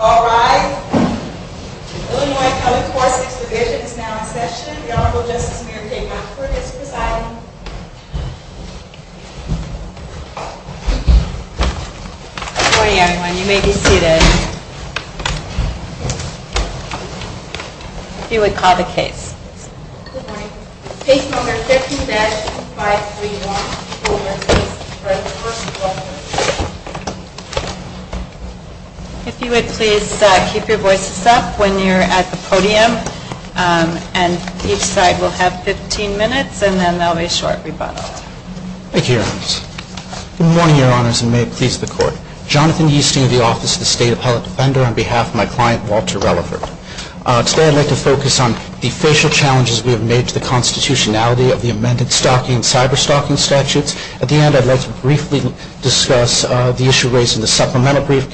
All rise. The Illinois Public Courts Exhibition is now in session. The Honorable Justice Mayor Kate Hockford is presiding. Good morning, everyone. You may be seated. If you would call the case. Good morning. Case number 15-2531. If you would please keep your voices up when you're at the podium, and each side will have 15 minutes, and then there will be a short rebuttal. Thank you, Your Honor. Good morning, Your Honors, and may it please the Court. Jonathan Yeasting of the Office of the State Appellate Defender on behalf of my client, Walter Relerford. Today I'd like to focus on the facial challenges we have made to the constitutionality of the amended stocking and cyber-stocking statutes. At the end, I'd like to briefly discuss the issue raised in the supplemental brief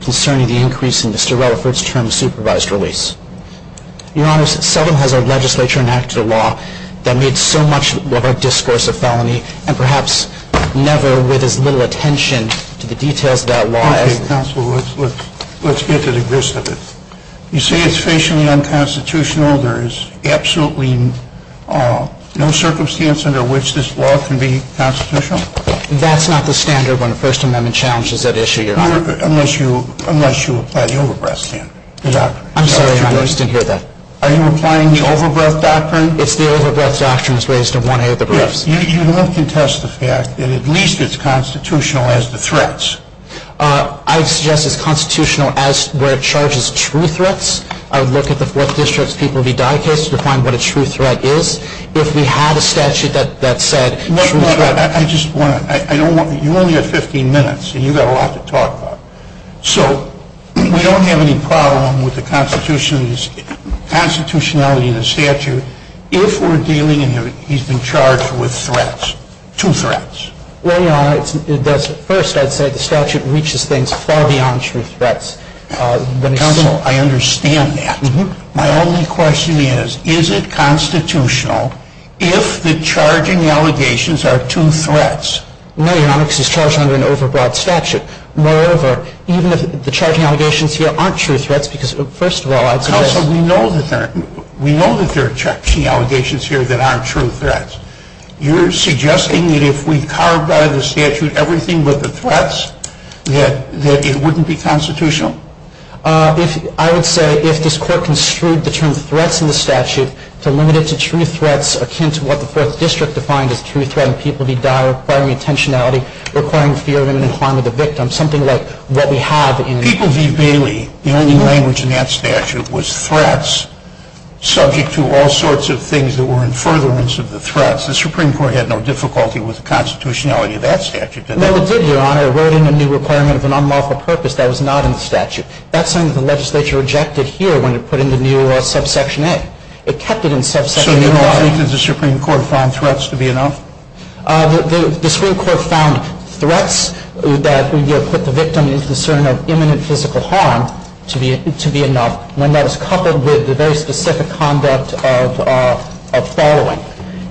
concerning the increase in Mr. Relerford's term of supervised release. Your Honors, seldom has our legislature enacted a law that made so much of our discourse a felony, and perhaps never with as little attention to the details of that law as... Okay, Counselor, let's get to the gist of it. You say it's facially unconstitutional, there is absolutely no circumstance under which this law can be constitutional? That's not the standard when a First Amendment challenge is at issue, Your Honor. Unless you apply the over-breath standard. I'm sorry, I just didn't hear that. Are you applying the over-breath doctrine? It's the over-breath doctrine that's raised in one of the briefs. You don't contest the fact that at least it's constitutional as to threats. I suggest it's constitutional as to where it charges true threats. I would look at the Fourth District's People V. Dye case to find what a true threat is. If we had a statute that said true threat... No, no, I just want to... You only have 15 minutes, and you've got a lot to talk about. So, we don't have any problem with the constitutionality of the statute if we're dealing and he's been charged with threats. Two threats. Well, Your Honor, first I'd say the statute reaches things far beyond true threats. Counsel, I understand that. My only question is, is it constitutional if the charging allegations are true threats? No, Your Honor, because he's charged under an over-breath statute. Moreover, even if the charging allegations here aren't true threats, because first of all... Counsel, we know that there are charging allegations here that aren't true threats. You're suggesting that if we carve out of the statute everything but the threats, that it wouldn't be constitutional? I would say if this court construed the term threats in the statute to limit it to true threats akin to what the Fourth District defined as true threat, and people V. Dye requiring intentionality, requiring fear of imminent harm of the victim, something like what we have in... The only language in that statute was threats subject to all sorts of things that were in furtherance of the threats. The Supreme Court had no difficulty with the constitutionality of that statute. No, it did, Your Honor. It wrote in a new requirement of an unlawful purpose that was not in the statute. That's something the legislature rejected here when it put in the new subsection A. It kept it in subsection A. So, you don't think that the Supreme Court found threats to be enough? The Supreme Court found threats that would put the victim in concern of imminent physical harm to be enough, when that is coupled with the very specific conduct of following.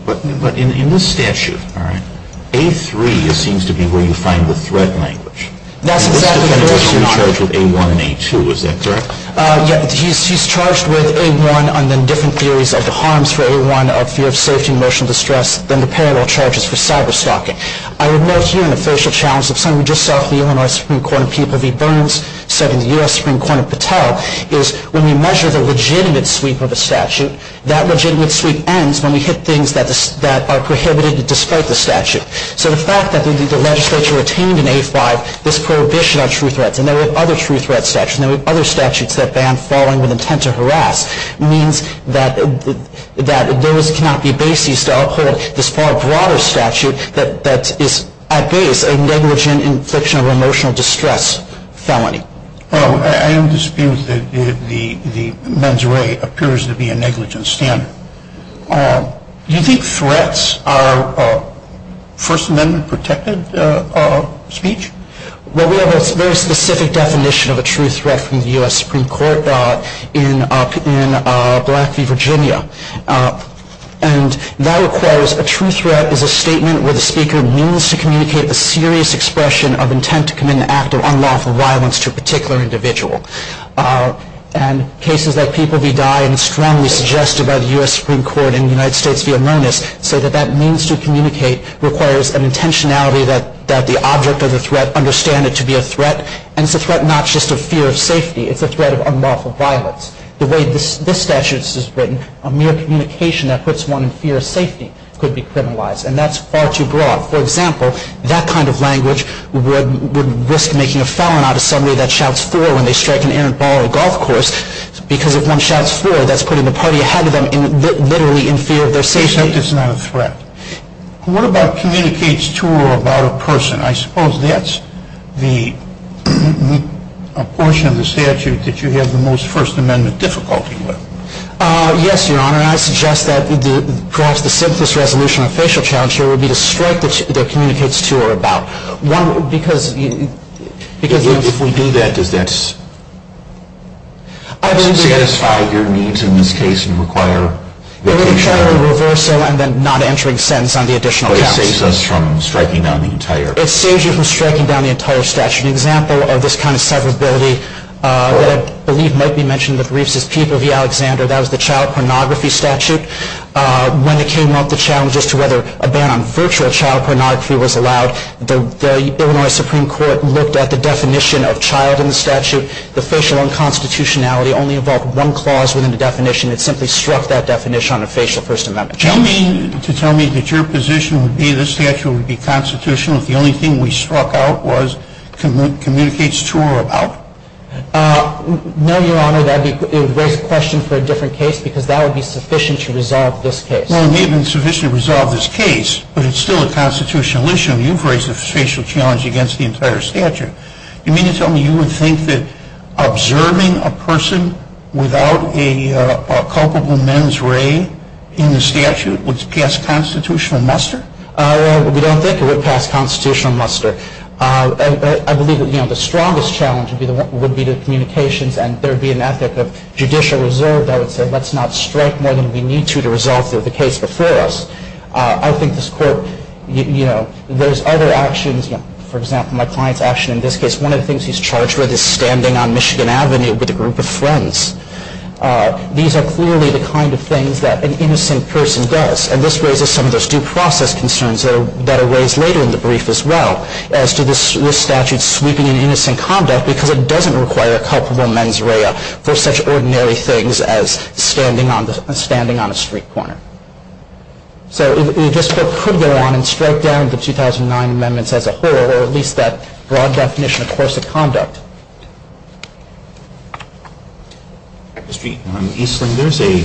But in this statute, all right, A3 seems to be where you find the threat language. And this defendant was charged with A1 and A2. Is that correct? He's charged with A1 and then different theories of the harms for A1 of fear of safety and emotional distress. Then the parallel charges for cyber-stalking. I would note here an official challenge of something we just saw from the Illinois Supreme Court in People v. Burns, said in the U.S. Supreme Court in Patel, is when we measure the legitimate sweep of a statute, that legitimate sweep ends when we hit things that are prohibited despite the statute. So the fact that the legislature retained in A5 this prohibition on true threats, and there were other true threat statutes, and there were other statutes that banned following with intent to harass, means that those cannot be bases to uphold this far broader statute that is, at base, a negligent infliction of emotional distress felony. I am disputing that the mens rea appears to be a negligent standard. Do you think threats are First Amendment protected speech? Well, we have a very specific definition of a true threat from the U.S. Supreme Court in Black v. Virginia. And that requires a true threat is a statement where the speaker means to communicate a serious expression of intent to commit an act of unlawful violence to a particular individual. And cases like People v. Dye and Strongly Suggested by the U.S. Supreme Court in the United States v. Amonis say that that means to communicate requires an intentionality that the object of the threat understand it to be a threat. And it's a threat not just of fear of safety. It's a threat of unlawful violence. The way this statute is written, a mere communication that puts one in fear of safety could be criminalized. And that's far too broad. For example, that kind of language would risk making a felon out of somebody that shouts four when they strike an errant ball on a golf course because if one shouts four, that's putting the party ahead of them literally in fear of their safety. Except it's not a threat. What about communicates to or about a person? I suppose that's the portion of the statute that you have the most First Amendment difficulty with. Yes, Your Honor. I suggest that perhaps the simplest resolution of a facial challenge here would be to strike that communicates to or about. One, because... If we do that, does that satisfy your needs in this case and require... It would be a challenge in reverso and then not entering a sentence on the additional counts. It saves us from striking down the entire... It saves you from striking down the entire statute. An example of this kind of severability that I believe might be mentioned in the briefs is Peter v. Alexander. That was the child pornography statute. When it came up, the challenge as to whether a ban on virtual child pornography was allowed, the Illinois Supreme Court looked at the definition of child in the statute. The facial unconstitutionality only involved one clause within the definition. It simply struck that definition on a facial First Amendment charge. Do you mean to tell me that your position would be this statute would be constitutional if the only thing we struck out was communicates to or about? No, Your Honor. It would raise a question for a different case because that would be sufficient to resolve this case. Well, it may have been sufficient to resolve this case, but it's still a constitutional issue. You've raised a facial challenge against the entire statute. You mean to tell me you would think that observing a person without a culpable men's ray in the statute would pass constitutional muster? We don't think it would pass constitutional muster. I believe the strongest challenge would be the communications and there would be an ethic of judicial reserve that would say let's not strike more than we need to to resolve the case before us. I think this court, you know, there's other actions. For example, my client's action in this case. One of the things he's charged with is standing on Michigan Avenue with a group of friends. These are clearly the kind of things that an innocent person does. And this raises some of those due process concerns that are raised later in the brief as well as to this statute sweeping in innocent conduct because it doesn't require a culpable men's ray for such ordinary things as standing on a street corner. So this court could go on and strike down the 2009 amendments as a whole or at least that broad definition of coercive conduct. Mr. Eastling, there's a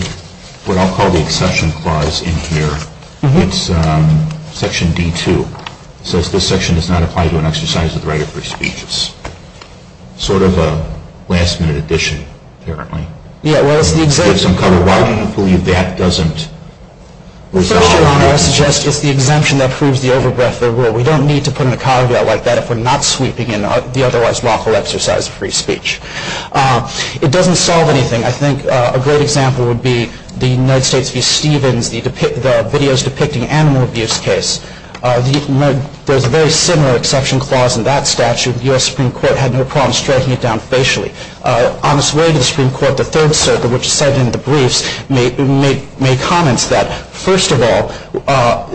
what I'll call the exception clause in here. It's section D2. It says this section does not apply to an exercise of the right of free speech. It's sort of a last-minute addition apparently. Yeah, well, it's the exemption. Why do you believe that doesn't resolve anything? First, Your Honor, I suggest it's the exemption that proves the overbreath of the rule. We don't need to put in a caveat like that if we're not sweeping in the otherwise lawful exercise of free speech. It doesn't solve anything. I think a great example would be the United States v. Stevens, the videos depicting animal abuse case. There's a very similar exception clause in that statute. The U.S. Supreme Court had no problem striking it down facially. On its way to the Supreme Court, the Third Circuit, which is cited in the briefs, made comments that, first of all,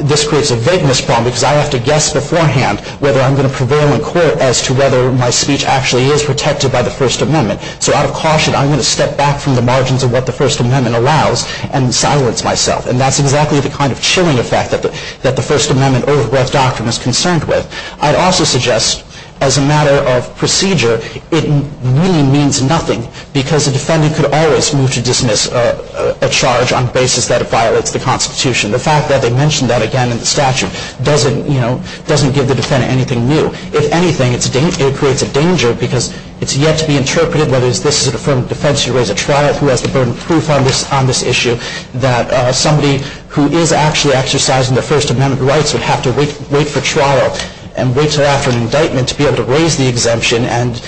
this creates a vagueness problem because I have to guess beforehand whether I'm going to prevail in court as to whether my speech actually is protected by the First Amendment. So out of caution, I'm going to step back from the margins of what the First Amendment allows and silence myself, and that's exactly the kind of chilling effect that the First Amendment overbreath doctrine is concerned with. I'd also suggest, as a matter of procedure, it really means nothing because a defendant could always move to dismiss a charge on the basis that it violates the Constitution. The fact that they mention that again in the statute doesn't give the defendant anything new. If anything, it creates a danger because it's yet to be interpreted, whether this is an affirmative defense or a trial, who has the burden of proof on this issue, that somebody who is actually exercising their First Amendment rights would have to wait for trial and wait until after an indictment to be able to raise the exemption and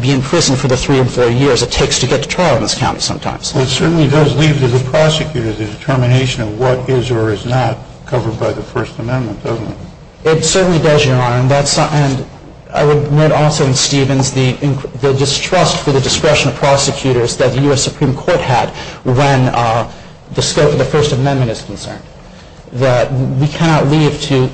be in prison for the three or four years it takes to get to trial in this county sometimes. It certainly does leave to the prosecutor the determination of what is or is not covered by the First Amendment, doesn't it? It certainly does, Your Honor. And I would note also in Stevens the distrust for the discretion of prosecutors that the U.S. Supreme Court had when the scope of the First Amendment is concerned, that we cannot leave to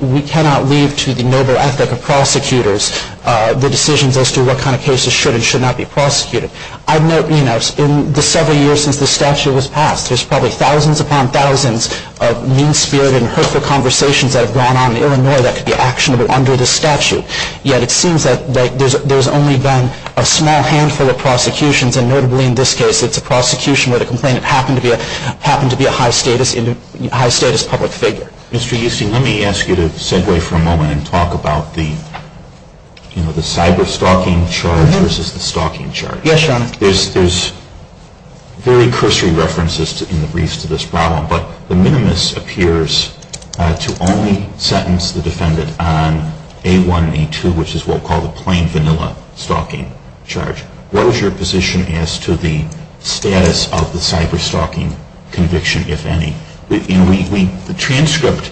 the noble ethic of prosecutors the decisions as to what kind of cases should and should not be prosecuted. In the several years since this statute was passed, there's probably thousands upon thousands of mean-spirited and hurtful conversations that have gone on in Illinois that could be actionable under this statute. Yet it seems that there's only been a small handful of prosecutions and notably in this case it's a prosecution where the complainant happened to be a high-status public figure. Mr. Euston, let me ask you to segue for a moment and talk about the cyber-stalking charge versus the stalking charge. Yes, Your Honor. There's very cursory references in the briefs to this problem, but the minimus appears to only sentence the defendant on A1, A2, which is what we'll call the plain vanilla stalking charge. What is your position as to the status of the cyber-stalking conviction, if any? The transcript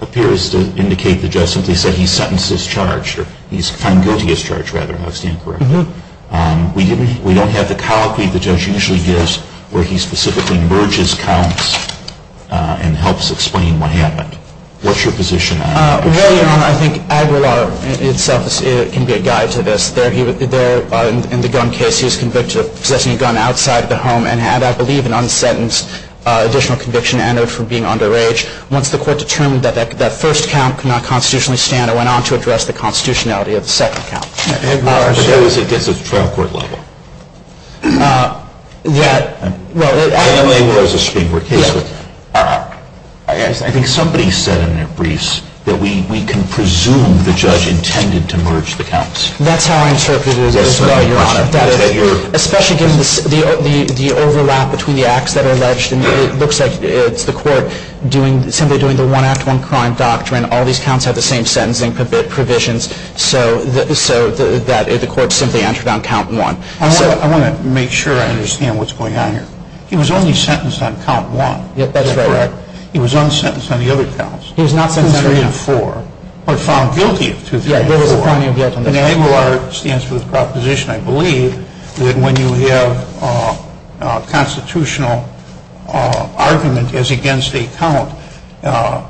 appears to indicate the judge simply said he sentenced this charge, or he's found guilty of this charge rather, if I understand correctly. We don't have the colloquy the judge usually gives where he specifically merges counts and helps explain what happened. What's your position on that? Well, Your Honor, I think Aguilar itself can be a guide to this. In the gun case, he was convicted of possessing a gun outside of the home and had, I believe, an unsentenced additional conviction and owed for being underage. Once the court determined that that first count could not constitutionally stand, it went on to address the constitutionality of the second count. But that was against the trial court level. Yeah. Well, I don't think there was a Supreme Court case with that. I think somebody said in their briefs that we can presume the judge intended to merge the counts. That's how I interpret it as well, Your Honor. Especially given the overlap between the acts that are alleged. It looks like it's the court simply doing the one act, one crime doctrine. All these counts have the same sentencing provisions so that the court simply entered on count one. I want to make sure I understand what's going on here. He was only sentenced on count one. That's correct. He was unsentenced on the other counts. He was not sentenced on the other counts. Two, three, and four. Or found guilty of two, three, and four. Yeah, there was a felony of guilt on those counts. And ABR stands for the proposition, I believe, that when you have a constitutional argument as against a count,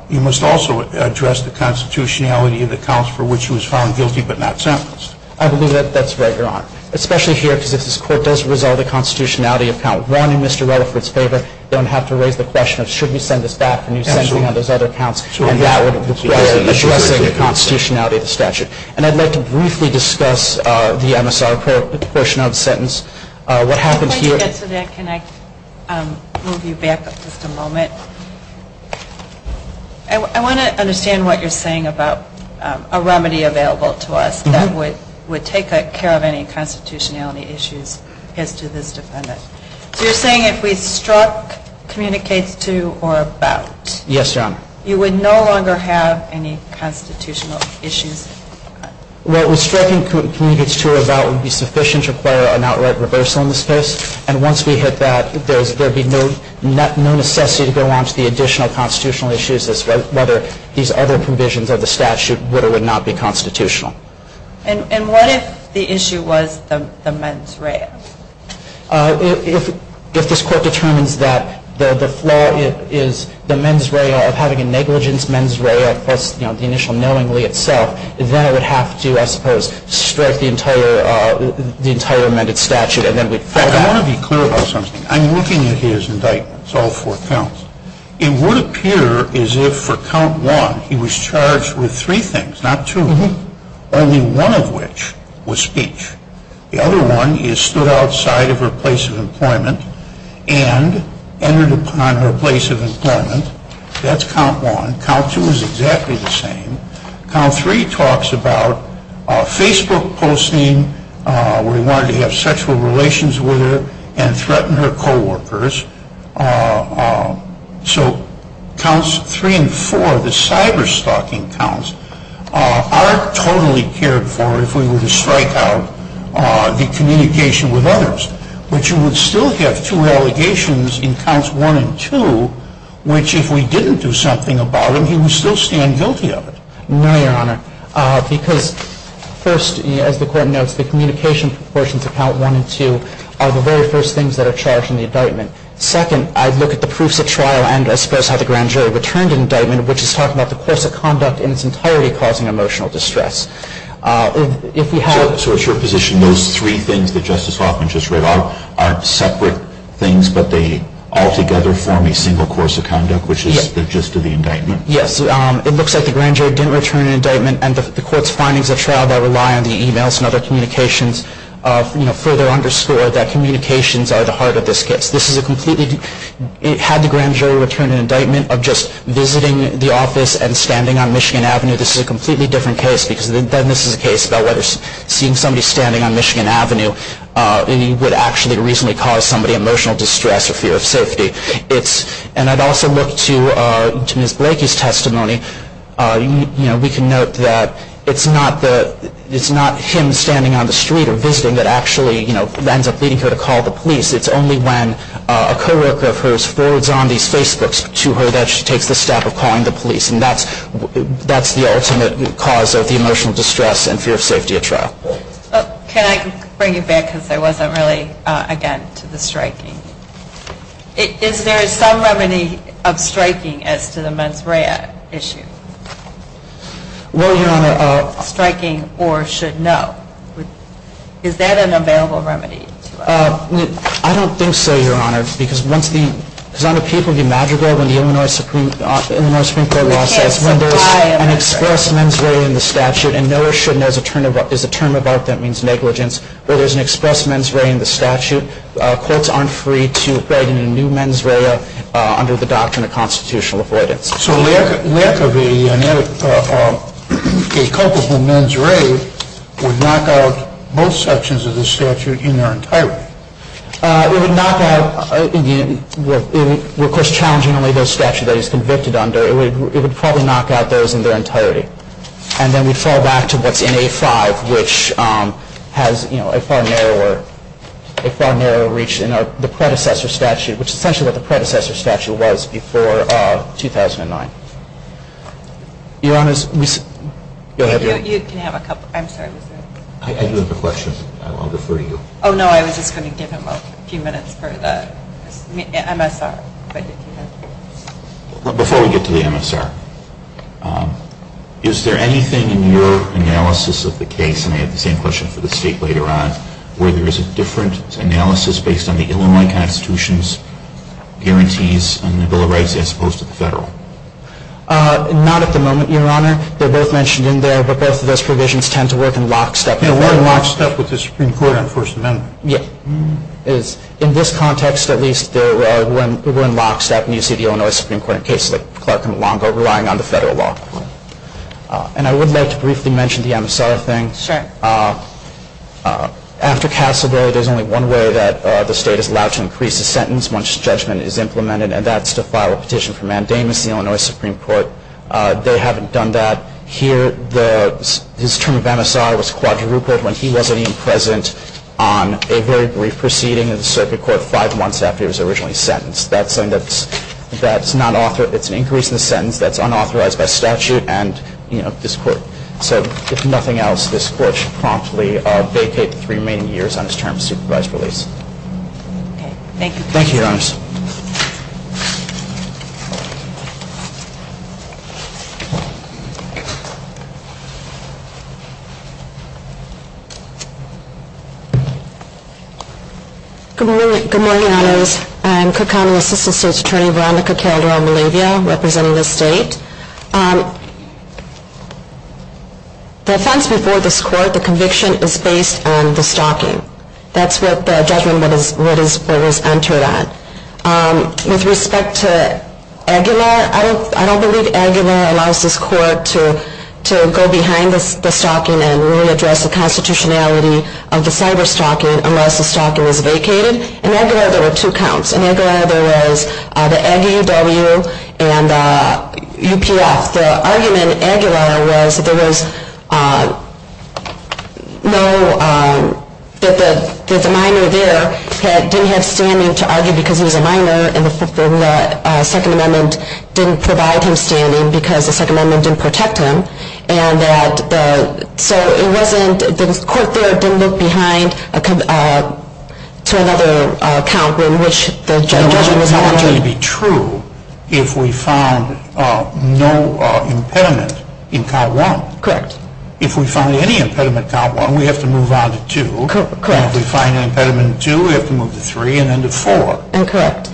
you must also address the constitutionality of the counts for which he was found guilty but not sentenced. I believe that that's right, Your Honor. Especially here because if this court does resolve the constitutionality of count one in Mr. Rella for its favor, you don't have to raise the question of should we send this back, can you send me on those other counts. And that would require addressing the constitutionality of the statute. And I'd like to briefly discuss the MSR portion of the sentence. What happened here – Can I just get to that? Can I move you back just a moment? I want to understand what you're saying about a remedy available to us that would take care of any constitutionality issues as to this defendant. Yes, Your Honor. You would no longer have any constitutional issues? Well, striking communities to or about would be sufficient to require an outright reversal in this case. And once we hit that, there would be no necessity to go on to the additional constitutional issues as to whether these other provisions of the statute would or would not be constitutional. And what if the issue was the mens rea? If this Court determines that the flaw is the mens rea of having a negligence mens rea plus the initial knowingly itself, then I would have to, I suppose, strike the entire amended statute and then we'd fall back. I want to be clear about something. I'm looking at his indictments, all four counts. It would appear as if for count one he was charged with three things, not two, only one of which was speech. The other one is stood outside of her place of employment and entered upon her place of employment. That's count one. Count two is exactly the same. Count three talks about Facebook posting where he wanted to have sexual relations with her and threaten her coworkers. So counts three and four, the cyberstalking counts, are totally cared for if we were to strike out the communication with others, but you would still have two allegations in counts one and two, which if we didn't do something about it, he would still stand guilty of it. No, Your Honor, because first, as the Court notes, the communication proportions of count one and two are the very first things that are charged in the indictment. Second, I'd look at the proofs of trial and I suppose how the grand jury returned an indictment, which is talking about the course of conduct in its entirety causing emotional distress. So it's your position those three things that Justice Hoffman just read are separate things, but they all together form a single course of conduct, which is the gist of the indictment? Yes. It looks like the grand jury didn't return an indictment and the Court's findings of trial that rely on the e-mails and other communications further underscore that communications are the heart of this case. Had the grand jury returned an indictment of just visiting the office and standing on Michigan Avenue, this is a completely different case because then this is a case about whether seeing somebody standing on Michigan Avenue would actually reasonably cause somebody emotional distress or fear of safety. And I'd also look to Ms. Blakey's testimony. We can note that it's not him standing on the street or visiting that actually ends up leading her to call the police. It's only when a co-worker of hers forwards on these Facebooks to her that she takes the step of calling the police. And that's the ultimate cause of the emotional distress and fear of safety at trial. Can I bring you back, because I wasn't really, again, to the striking. Is there some remedy of striking as to the mens rea issue? Well, Your Honor. Striking or should no. Is that an available remedy to us? I don't think so, Your Honor, because on the people of the imaginable, when the Illinois Supreme Court law says when there is an express mens rea in the statute and no or should no is a term of art that means negligence, where there's an express mens rea in the statute, courts aren't free to write in a new mens rea under the doctrine of constitutional avoidance. So lack of a culpable mens rea would knock out most sections of the statute in their entirety? It would knock out, of course, challenging only those statutes that he's convicted under. It would probably knock out those in their entirety. And then we'd fall back to what's in A5, which has a far narrower reach than the predecessor statute, which is essentially what the predecessor statute was before 2009. Your Honor, you'll have your... You can have a couple. I'm sorry. I do have a question. I'll defer to you. Oh, no. I was just going to give him a few minutes for the MSR. Before we get to the MSR, is there anything in your analysis of the case, and I have the same question for the State later on, where there is a different analysis based on the Illinois Constitution's guarantees on the Bill of Rights as opposed to the Federal? Not at the moment, Your Honor. They're both mentioned in there, but both of those provisions tend to work in lockstep. They work in lockstep with the Supreme Court on the First Amendment. Yes. In this context, at least, we're in lockstep, and you see the Illinois Supreme Court in cases like Clark v. Longo relying on the Federal law. And I would like to briefly mention the MSR thing. Sure. After Cassidy, there's only one way that the State is allowed to increase a sentence once judgment is implemented, and that's to file a petition for mandamus in the Illinois Supreme Court. They haven't done that here. His term of MSR was quadrupled when he wasn't even present on a very brief proceeding in the Circuit Court five months after he was originally sentenced. That's an increase in the sentence that's unauthorized by statute, and, you know, this Court said, if nothing else, this Court should promptly vacate the remaining years on his term of supervised release. Thank you, Your Honor. Good morning, Your Honors. I'm Cook County Assistant State's Attorney Veronica Calderon-Malavia, representing the State. The offense before this Court, the conviction, is based on the stalking. That's what the judgment that was entered on. With respect to Aguilar, I don't believe Aguilar allows this Court to, you know, go behind the stalking and really address the constitutionality of the cyber-stalking unless the stalking is vacated. In Aguilar, there were two counts. In Aguilar, there was the Aggie, W, and UPF. The argument in Aguilar was that there was no, that the minor there didn't have standing to argue because he was a minor, and the Second Amendment didn't provide him standing because the Second Amendment didn't protect him. And that the, so it wasn't, the Court there didn't look behind to another count in which the judgment was argued. It would only be true if we found no impediment in Count 1. Correct. If we find any impediment in Count 1, we have to move on to 2. Correct. If we find an impediment in 2, we have to move to 3, and then to 4. Correct.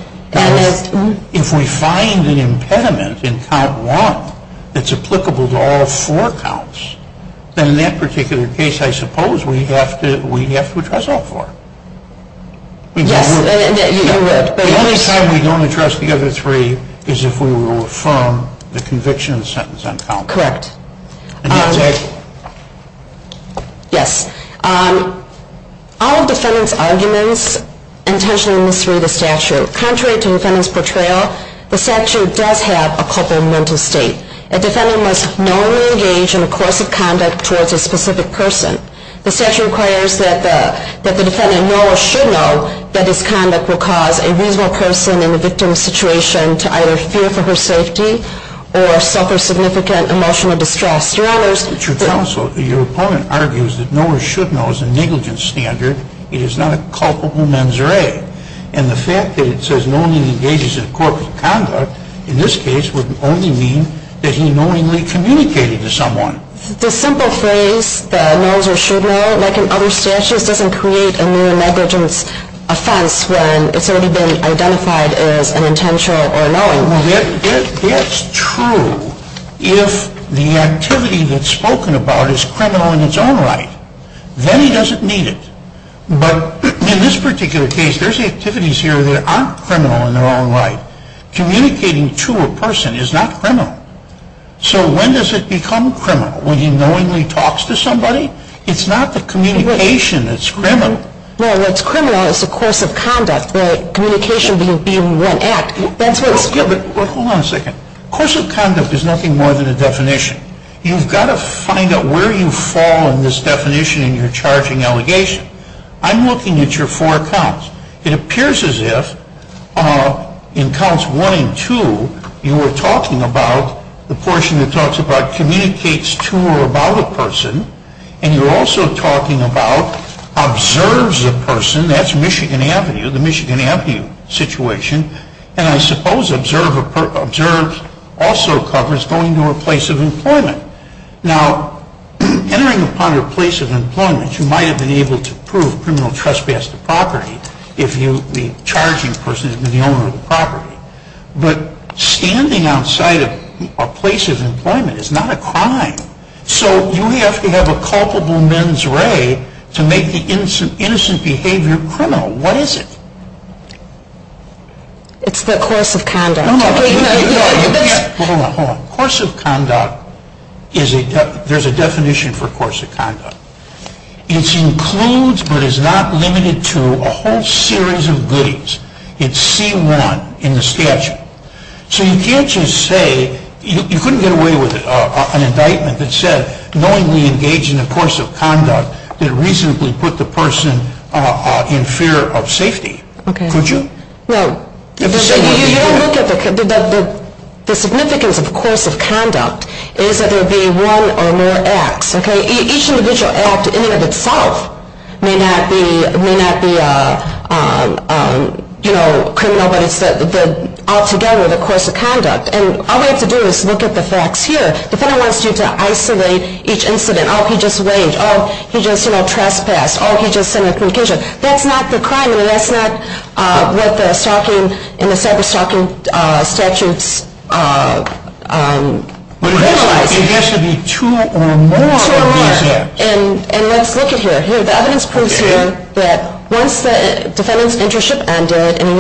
If we find an impediment in Count 1 that's applicable to all four counts, then in that particular case, I suppose we have to address all four. Yes, you would. The only time we don't address the other three is if we were to affirm the conviction sentence on Count 1. Correct. Yes. All of defendant's arguments intentionally misread the statute. Contrary to defendant's portrayal, the statute does have a culpable mental state. A defendant must knowingly engage in coercive conduct towards a specific person. The statute requires that the defendant know or should know that this conduct will cause a reasonable person in the victim's situation to either fear for her safety or suffer significant emotional distress. Your Honor, your opponent argues that know or should know is a negligence standard. It is not a culpable mens re. And the fact that it says knowingly engages in coercive conduct, in this case, would only mean that he knowingly communicated to someone. The simple phrase that knows or should know, like in other statutes, doesn't create a new negligence offense when it's already been identified as an intentional or knowing. That's true if the activity that's spoken about is criminal in its own right. Then he doesn't need it. But in this particular case, there's activities here that aren't criminal in their own right. Communicating to a person is not criminal. So when does it become criminal? When he knowingly talks to somebody? It's not the communication that's criminal. No, what's criminal is the coercive conduct, the communication being one act. That's what it's called. Hold on a second. Coercive conduct is nothing more than a definition. You've got to find out where you fall in this definition in your charging allegation. I'm looking at your four counts. It appears as if in counts one and two, you were talking about the portion that talks about communicates to or about a person. And you're also talking about observes a person. That's Michigan Avenue, the Michigan Avenue situation. And I suppose observe also covers going to a place of employment. Now, entering upon your place of employment, you might have been able to prove criminal trespass to property if the charging person had been the owner of the property. But standing outside a place of employment is not a crime. So you have to have a culpable mens re to make the innocent behavior criminal. What is it? It's the coercive conduct. Hold on. Coercive conduct, there's a definition for coercive conduct. It includes but is not limited to a whole series of goodies. It's C1 in the statute. So you can't just say you couldn't get away with an indictment that said knowingly engage in a coercive conduct that reasonably put the person in fear of safety. Could you? No. You don't look at the significance of coercive conduct is that there would be one or more acts. Each individual act in and of itself may not be criminal, but it's altogether the coercive conduct. And all we have to do is look at the facts here. The defendant wants you to isolate each incident. Oh, he just waved. Oh, he just trespassed. Oh, he just sent a concussion. That's not the crime. I mean, that's not what the stalking and the separate stalking statutes visualize. There has to be two or more of these acts. Two or more. And let's look at here. Here, the evidence proves here that once the defendant's internship ended and he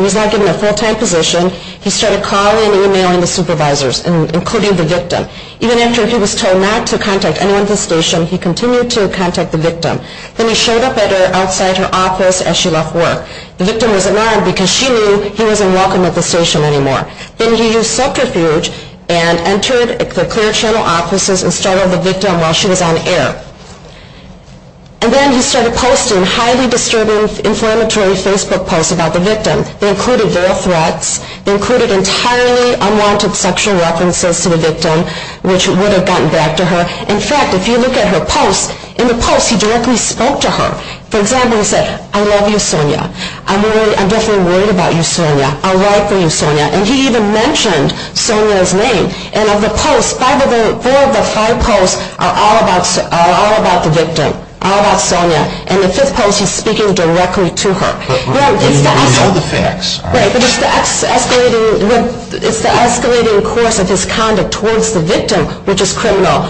was not given a full-time position, he started calling and emailing the supervisors, including the victim. Even after he was told not to contact anyone at the station, he continued to contact the victim. Then he showed up at her outside her office as she left work. The victim was alarmed because she knew he wasn't welcome at the station anymore. Then he used subterfuge and entered the clear channel offices and startled the victim while she was on air. And then he started posting highly disturbing inflammatory Facebook posts about the victim. They included real threats. They included entirely unwanted sexual references to the victim, which would have gotten back to her. In fact, if you look at her posts, in the posts he directly spoke to her. For example, he said, I love you, Sonia. I'm definitely worried about you, Sonia. I'll ride for you, Sonia. And he even mentioned Sonia's name. And of the posts, four of the five posts are all about the victim, all about Sonia. In the fifth post, he's speaking directly to her. But we know the facts. Right, but it's the escalating course of his conduct towards the victim, which is criminal.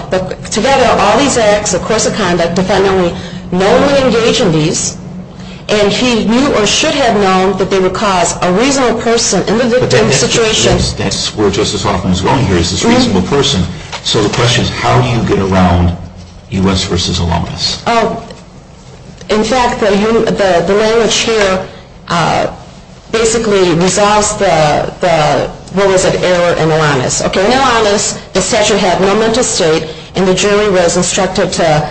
Together, all these acts, the course of conduct, the defendant would normally engage in these. And he knew or should have known that they would cause a reasonable person in the victim's situation. But that's where Justice Hoffman is going here, is this reasonable person. So the question is, how do you get around U.S. v. Alanis? In fact, the language here basically resolves the, what was it, error in Alanis. In Alanis, the statute had no mental state, and the jury was instructed to,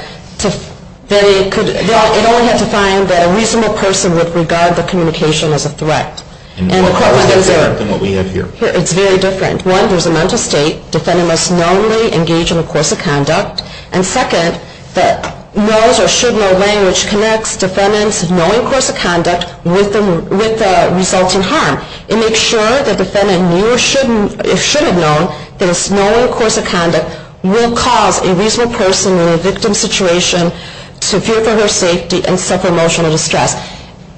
it only had to find that a reasonable person would regard the communication as a threat. And what we have here. It's very different. One, there's a mental state. Defendant must knowingly engage in the course of conduct. And second, that knows or should know language connects defendant's knowing course of conduct with the resulting harm. It makes sure the defendant knew or should have known that his knowing course of conduct will cause a reasonable person in a victim's situation to fear for her safety and suffer emotional distress.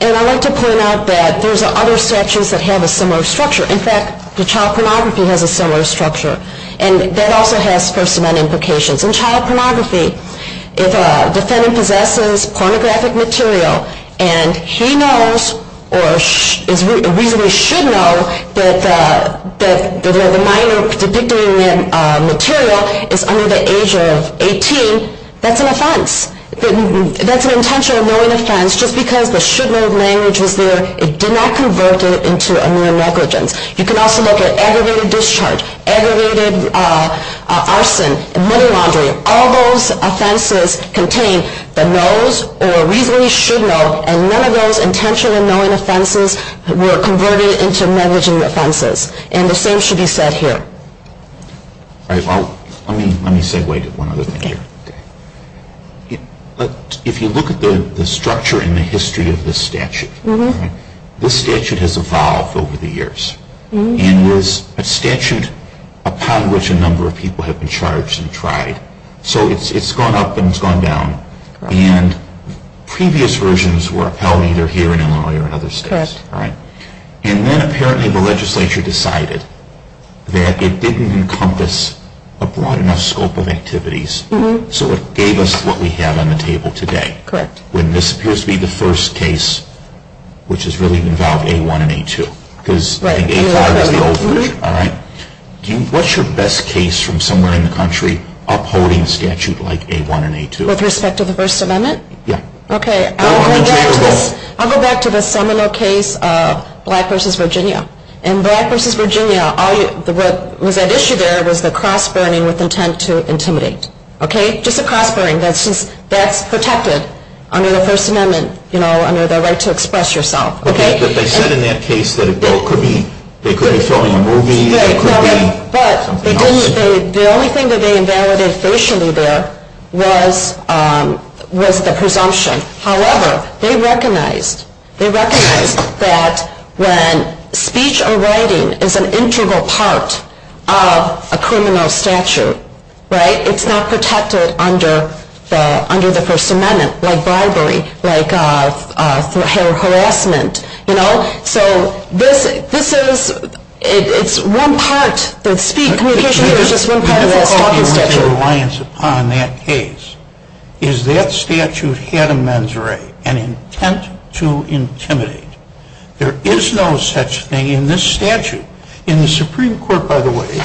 And I'd like to point out that there's other statutes that have a similar structure. In fact, the child pornography has a similar structure. And that also has First Amendment implications. In child pornography, if a defendant possesses pornographic material and he knows or reasonably should know that the minor depicting the material is under the age of 18, that's an offense. That's an intentional knowing offense. Just because the should know language was there, it did not convert it into a mere negligence. You can also look at aggravated discharge, aggravated arson, money laundering. All those offenses contain the knows or reasonably should know, and none of those intentional knowing offenses were converted into negligent offenses. And the same should be said here. All right. Well, let me segue to one other thing here. If you look at the structure and the history of this statute, this statute has evolved over the years and is a statute upon which a number of people have been charged and tried. So it's gone up and it's gone down. And previous versions were upheld either here in Illinois or in other states. And then apparently the legislature decided that it didn't encompass a broad enough scope of activities, so it gave us what we have on the table today. When this appears to be the first case, which has really involved A1 and A2, because I think A5 is the old version. What's your best case from somewhere in the country upholding a statute like A1 and A2? With respect to the First Amendment? Yeah. Okay. I'll go back to the seminal case of Black v. Virginia. In Black v. Virginia, what was at issue there was the cross-burning with intent to intimidate. Okay? Just a cross-burning. That's protected under the First Amendment, you know, under the right to express yourself. Okay? But they said in that case that it could be filming a movie. But the only thing that they invalidated facially there was the presumption. However, they recognized that when speech or writing is an integral part of a criminal statute, right, it's not protected under the First Amendment like bribery, like harassment, you know? So this is, it's one part that speech, communication is just one part of that statute. The difficulty with the reliance upon that case is that statute had a mens re, an intent to intimidate. There is no such thing in this statute. And the Supreme Court, by the way,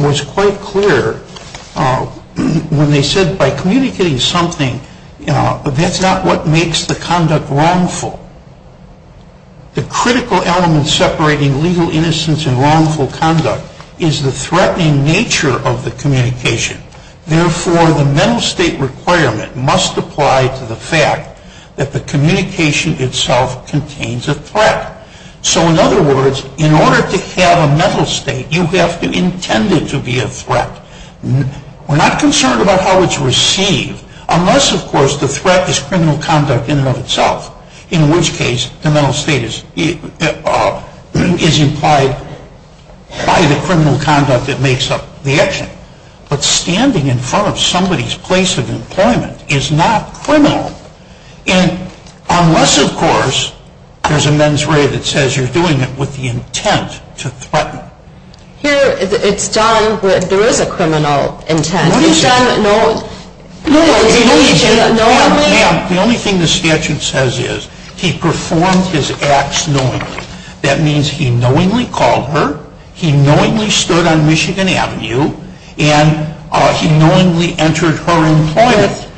was quite clear when they said by communicating something, that's not what makes the conduct wrongful. The critical element separating legal innocence and wrongful conduct is the threatening nature of the communication. Therefore, the mental state requirement must apply to the fact that the communication itself contains a threat. So in other words, in order to have a mental state, you have to intend it to be a threat. We're not concerned about how it's received unless, of course, the threat is criminal conduct in and of itself, in which case the mental state is implied by the criminal conduct that makes up the action. But standing in front of somebody's place of employment is not criminal unless, of course, there's a mens re that says you're doing it with the intent to threaten. Here, it's done with, there is a criminal intent. What is it? It's done with no intention, no intent. Ma'am, the only thing the statute says is he performed his acts knowingly. That means he knowingly called her, he knowingly stood on Michigan Avenue, and he knowingly entered her employment.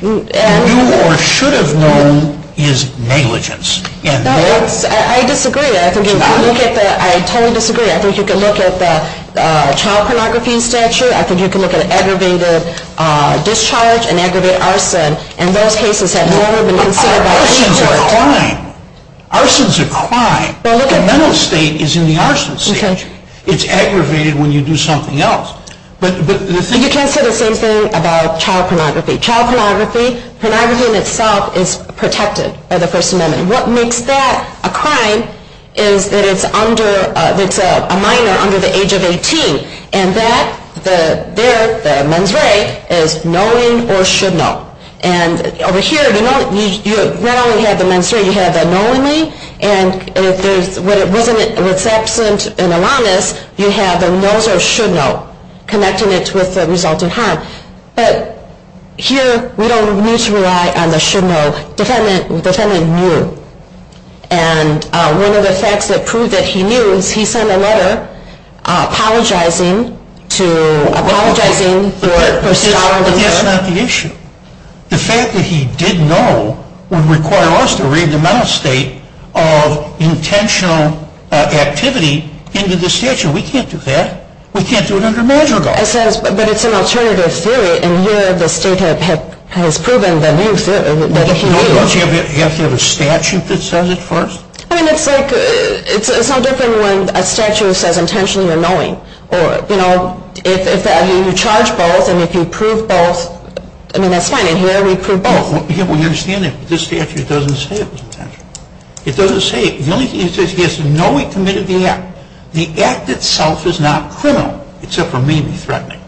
You do or should have known is negligence. No, I disagree. I totally disagree. I think you can look at the child pornography statute. I think you can look at aggravated discharge and aggravated arson. Arson is a crime. Arson is a crime. The mental state is in the arson state. It's aggravated when you do something else. You can't say the same thing about child pornography. Child pornography, pornography in itself is protected by the First Amendment. What makes that a crime is that it's a minor under the age of 18, and that there, the mens re, is knowing or should know. And over here, you not only have the mens re, you have the knowingly, and what's absent in Alanis, you have the knows or should know, connecting it with the result of harm. But here, we don't need to rely on the should know. The defendant knew. And one of the facts that proved that he knew is he sent a letter apologizing to, apologizing for starving her. That's not the issue. The fact that he did know would require us to read the mental state of intentional activity into the statute. We can't do that. We can't do it under major law. But it's an alternative theory, and here the state has proven the new theory that he knew. Don't you have to have a statute that says it first? I mean, it's like, it's no different when a statute says intentionally or knowing. You know, if you charge both, and if you prove both, I mean, that's fine. In here, we prove both. Well, you understand that this statute doesn't say it was intentional. It doesn't say it. The only thing it says is he has to know he committed the act. The act itself is not criminal, except for maybe threatening.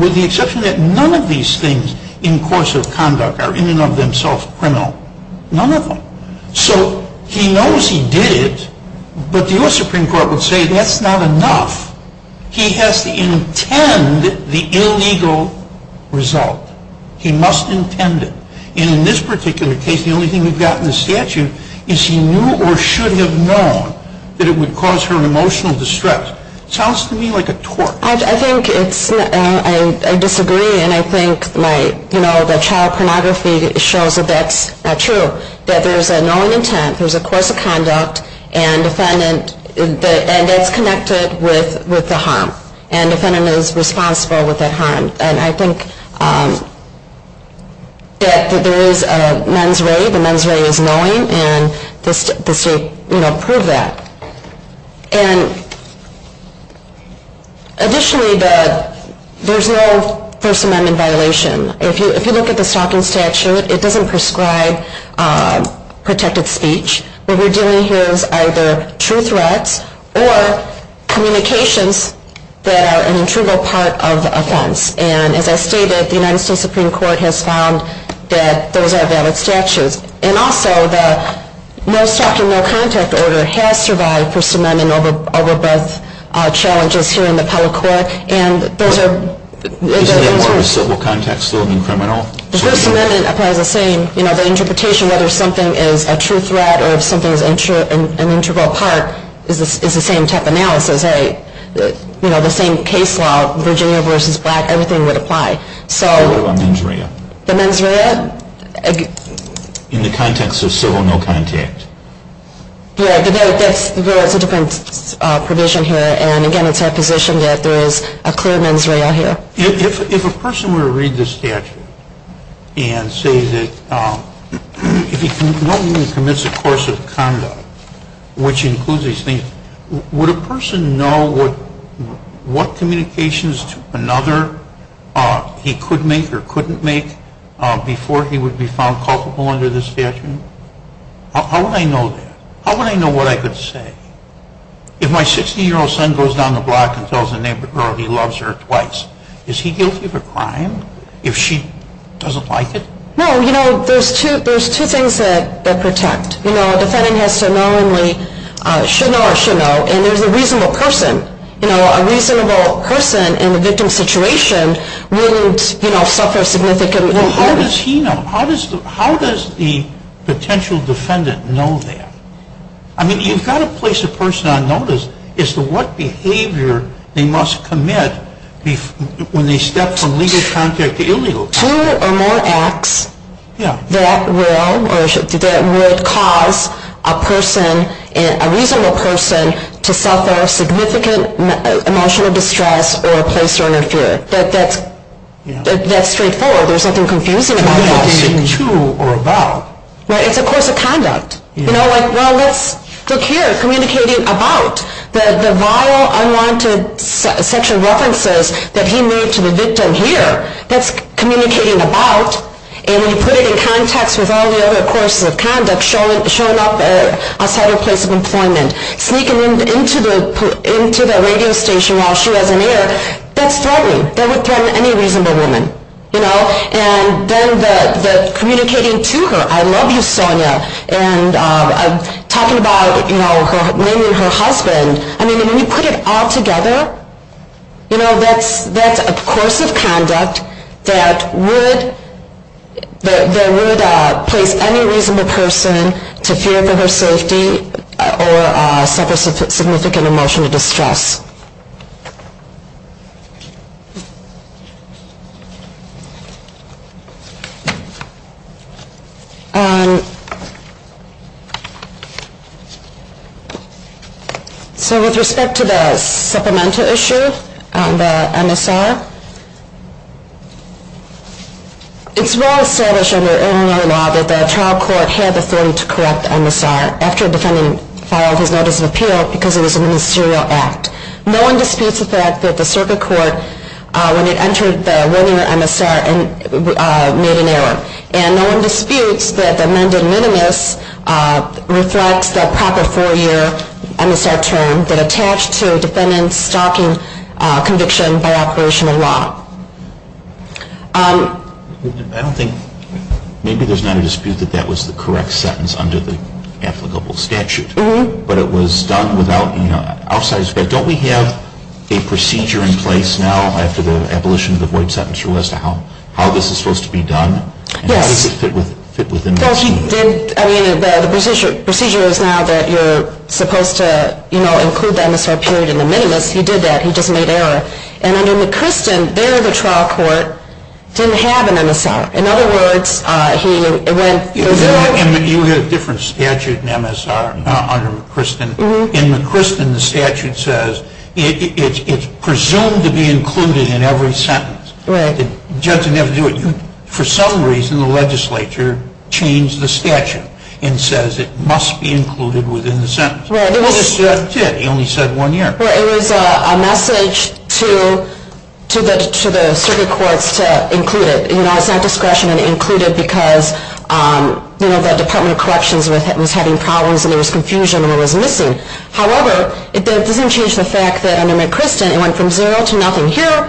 With the exception that none of these things in course of conduct are in and of themselves criminal. None of them. So he knows he did it, but the U.S. Supreme Court would say that's not enough. He has to intend the illegal result. He must intend it. And in this particular case, the only thing we've got in the statute is he knew or should have known that it would cause her emotional distress. Sounds to me like a tort. I think it's, I disagree, and I think my, you know, the child pornography shows that that's not true. That there's a knowing intent, there's a course of conduct, and defendant, and that's connected with the harm. And the defendant is responsible with that harm. And I think that there is a mens rea, the mens rea is knowing, and the state, you know, proved that. And additionally, there's no First Amendment violation. If you look at the stalking statute, it doesn't prescribe protected speech. What we're dealing here is either true threats or communications that are an intrugal part of the offense. And as I stated, the United States Supreme Court has found that those are valid statutes. And also, the no stalking, no contact order has survived First Amendment overbirth challenges here in the appellate court. And those are. Does the order of civil contact still mean criminal? The First Amendment applies the same. You know, the interpretation, whether something is a true threat or if something is an intrugal part is the same type of analysis, right? You know, the same case law, Virginia versus black, everything would apply. So. What about mens rea? The mens rea? In the context of civil no contact. Yeah, but that's a different provision here. And again, it's our position that there is a clear mens rea here. If a person were to read this statute and say that if he no longer commits a course of conduct, which includes these things, would a person know what communications to another he could make or couldn't make before he would be found culpable under this statute? How would I know that? How would I know what I could say? If my 60-year-old son goes down the block and tells a neighbor girl he loves her twice, is he guilty of a crime if she doesn't like it? No, you know, there's two things that protect. You know, a defendant has to knowingly should know or should know, and there's a reasonable person. You know, a reasonable person in a victim situation wouldn't, you know, suffer significant harm. How does he know? How does the potential defendant know that? I mean, you've got to place a person on notice as to what behavior they must commit when they step from legal contact to illegal contact. There are two or more acts that will or that would cause a person, a reasonable person, to suffer significant emotional distress or a place to interfere. That's straightforward. There's nothing confusing about that. It's a course of conduct. You know, like, well, let's look here, communicating about. The vile, unwanted sexual references that he made to the victim here, that's communicating about. And when you put it in context with all the other courses of conduct, showing up outside her place of employment, sneaking into the radio station while she was in there, that's threatening. That would threaten any reasonable woman, you know. And then the communicating to her, I love you, Sonia, and talking about, you know, naming her husband. I mean, when you put it all together, you know, that's a course of conduct that would place any reasonable person to fear for her safety or suffer significant emotional distress. So with respect to the supplemental issue, the MSR, it's well established under Illinois law that the trial court had the authority to correct MSR after a defendant filed his notice of appeal because it was a ministerial act. No one disputes the fact that the circuit court, when it entered the one-year MSR, made an error. And no one disputes that the amended minimus reflects the proper four-year MSR term that attached to a defendant's stalking conviction by operational law. I don't think, maybe there's not a dispute that that was the correct sentence under the applicable statute. But it was done without, you know, outside, but don't we have a procedure in place now after the abolition of the void sentence as to how this is supposed to be done? Yes. And how does it fit within that? Well, she did, I mean, the procedure is now that you're supposed to, you know, include the MSR period in the minimus. He did that. He just made error. And under McChristen, there the trial court didn't have an MSR. In other words, he went. You had a different statute in MSR under McChristen. In McChristen, the statute says it's presumed to be included in every sentence. Right. The judge didn't have to do it. For some reason, the legislature changed the statute and says it must be included within the sentence. Right. He only said one year. Well, it was a message to the circuit courts to include it. You know, it's not discretion to include it because, you know, the Department of Corrections was having problems and there was confusion and it was missing. However, it doesn't change the fact that under McChristen, it went from zero to nothing. Here,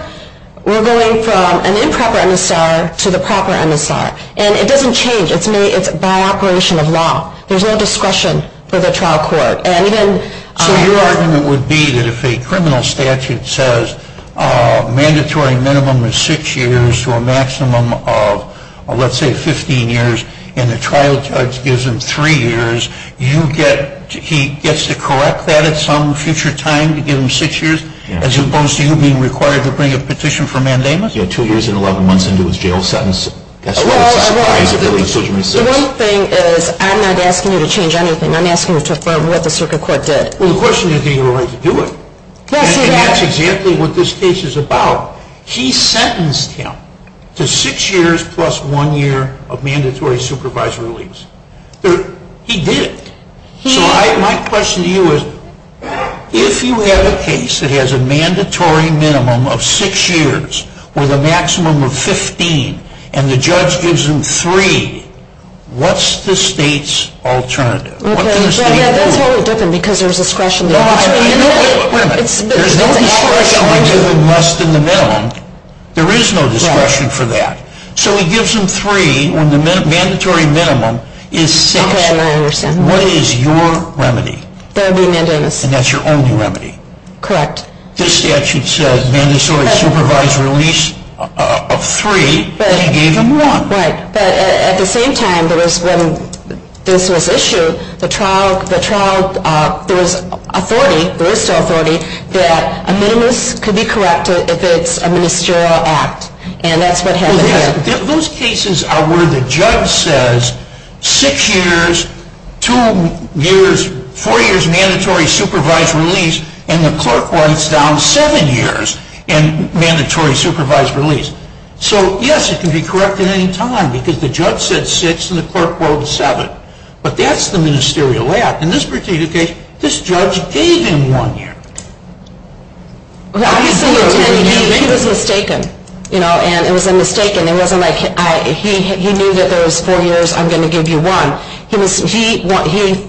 we're going from an improper MSR to the proper MSR. And it doesn't change. It's by operation of law. There's no discretion for the trial court. So your argument would be that if a criminal statute says mandatory minimum is six years to a maximum of, let's say, 15 years, and the trial judge gives him three years, he gets to correct that at some future time to give him six years? Yeah. As opposed to you being required to bring a petition for mandamus? Yeah, two years and 11 months into his jail sentence. Well, the one thing is I'm not asking you to change anything. I'm asking you to affirm what the circuit court did. Well, the question is did he really do it? Yes, he did. And that's exactly what this case is about. He sentenced him to six years plus one year of mandatory supervisory release. He did it. So my question to you is if you have a case that has a mandatory minimum of six years with a maximum of 15 and the judge gives him three, what's the state's alternative? That's what would happen because there's discretion there. Wait a minute. There's no discretion to give him less than the minimum. There is no discretion for that. So he gives him three when the mandatory minimum is six. Okay, I understand. What is your remedy? That would be mandamus. And that's your only remedy? Correct. This statute says mandatory supervisory release of three, and he gave him one. Right. But at the same time, when this was issued, there was authority, there is still authority, that a minimus could be corrected if it's a ministerial act. And that's what happened here. Those cases are where the judge says six years, two years, four years mandatory supervisory release, and the clerk writes down seven years in mandatory supervisory release. So, yes, it can be corrected any time because the judge said six and the clerk wrote seven. But that's the ministerial act. In this particular case, this judge gave him one year. He was mistaken, you know, and it was a mistake and it wasn't like he knew that there was four years, I'm going to give you one. He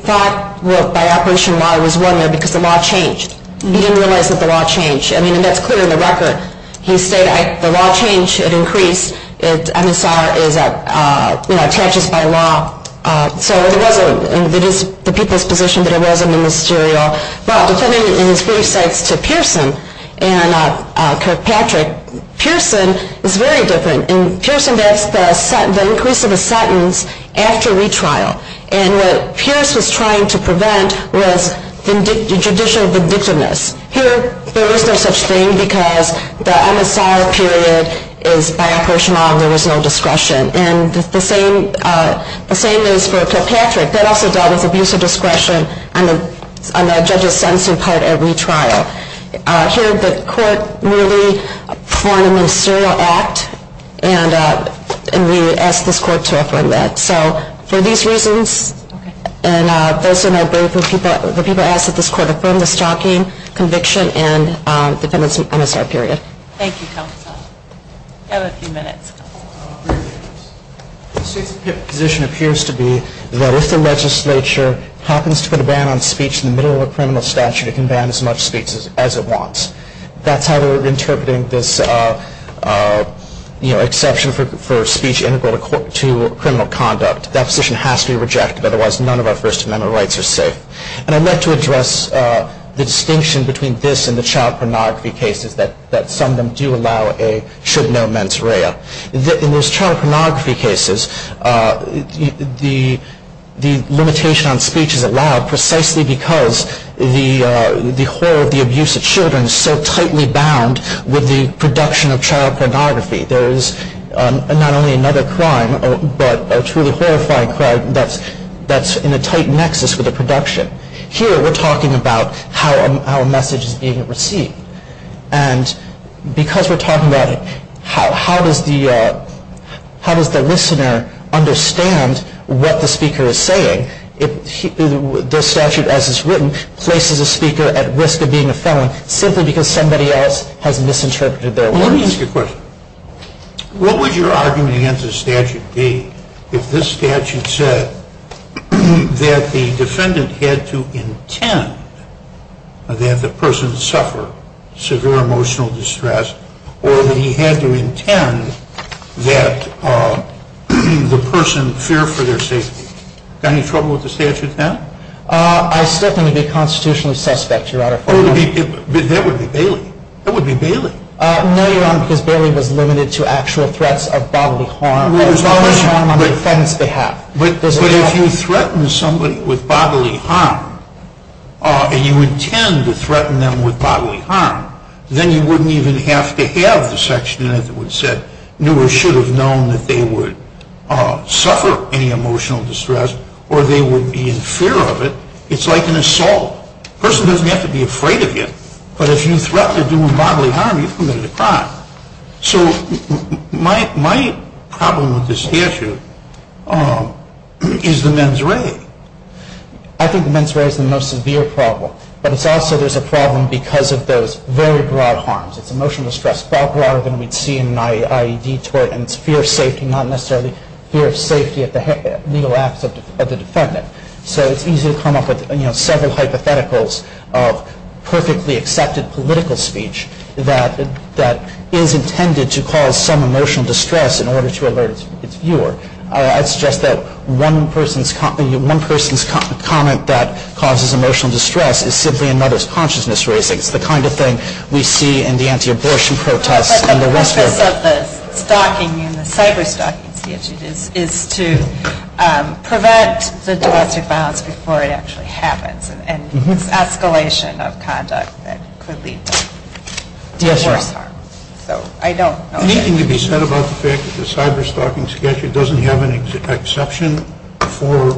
thought by operation Y it was one year because the law changed. He didn't realize that the law changed. I mean, and that's clear in the record. He said the law changed. It increased. MSR is, you know, attaches by law. So it was the people's position that it wasn't a ministerial. But depending on his briefs to Pearson and Kirkpatrick, Pearson is very different. In Pearson, that's the increase of a sentence after retrial. And what Pierce was trying to prevent was judicial vindictiveness. Here there was no such thing because the MSR period is by operation Y and there was no discretion. And the same is for Kirkpatrick. That also dealt with abuse of discretion on the judge's sentencing part at retrial. Here the court really formed a ministerial act and we asked this court to affirm that. So for these reasons and those in our brief, the people asked that this court affirm the stalking conviction and defendant's MSR period. Thank you, counsel. You have a few minutes. The state's position appears to be that if the legislature happens to put a ban on speech in the middle of a criminal statute, it can ban as much speech as it wants. That's how they're interpreting this exception for speech integral to criminal conduct. That position has to be rejected, otherwise none of our First Amendment rights are safe. And I'd like to address the distinction between this and the child pornography cases that some of them do allow a should-know mens rea. In those child pornography cases, the limitation on speech is allowed precisely because the horror of the abuse of children is so tightly bound with the production of child pornography. There is not only another crime, but a truly horrifying crime that's in a tight nexus with the production. Here we're talking about how a message is being received. And because we're talking about it, how does the listener understand what the speaker is saying? The statute, as it's written, places a speaker at risk of being a felon simply because somebody else has misinterpreted their words. Let me ask you a question. What would your argument against the statute be if this statute said that the defendant had to intend that the person suffer severe emotional distress or that he had to intend that the person fear for their safety? Any trouble with the statute then? I still think it would be constitutionally suspect, Your Honor. That would be Bailey. No, Your Honor, because Bailey was limited to actual threats of bodily harm, bodily harm on the defense behalf. But if you threaten somebody with bodily harm, and you intend to threaten them with bodily harm, then you wouldn't even have to have the section in it that would say, Newer should have known that they would suffer any emotional distress or they would be in fear of it. It's like an assault. A person doesn't have to be afraid of you, but if you threaten to do bodily harm, you've committed a crime. So my problem with this statute is the mens rea. I think the mens rea is the most severe problem, but it's also there's a problem because of those very broad harms. It's emotional distress far broader than we'd see in an IED tort, and it's fear of safety, not necessarily fear of safety at the legal acts of the defendant. So it's easy to come up with several hypotheticals of perfectly accepted political speech that is intended to cause some emotional distress in order to alert its viewer. I'd suggest that one person's comment that causes emotional distress is simply another's consciousness raising. It's the kind of thing we see in the anti-abortion protests and the rest of it. The purpose of the stalking and the cyber-stalking statute is to prevent the domestic violence before it actually happens and this escalation of conduct that could lead to worse harm. Anything to be said about the fact that the cyber-stalking statute doesn't have an exception for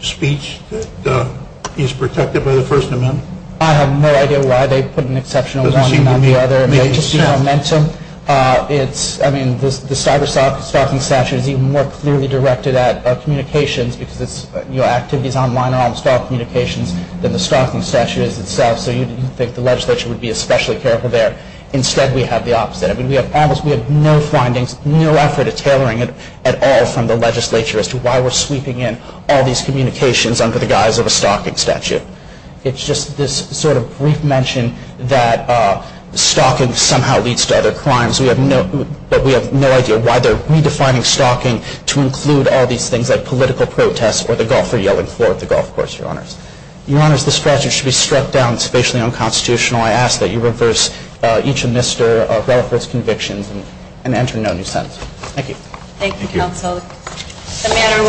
speech that is protected by the First Amendment? I have no idea why they put an exception on one and not the other. It's just the momentum. The cyber-stalking statute is even more clearly directed at communications because activities online are on the stalk communications than the stalking statute is itself. So you'd think the legislature would be especially careful there. Instead we have the opposite. We have no findings, no effort at tailoring it at all from the legislature as to why we're sweeping in all these communications under the guise of a stalking statute. It's just this sort of brief mention that stalking somehow leads to other crimes. We have no idea why they're redefining stalking to include all these things like political protests or the golfer yelling floor at the golf course, Your Honors. Your Honors, this strategy should be struck down. It's facially unconstitutional. I ask that you reverse each of Mr. Relaford's convictions and enter no new sentence. Thank you. Thank you, Counsel. The matter will be taken under advice.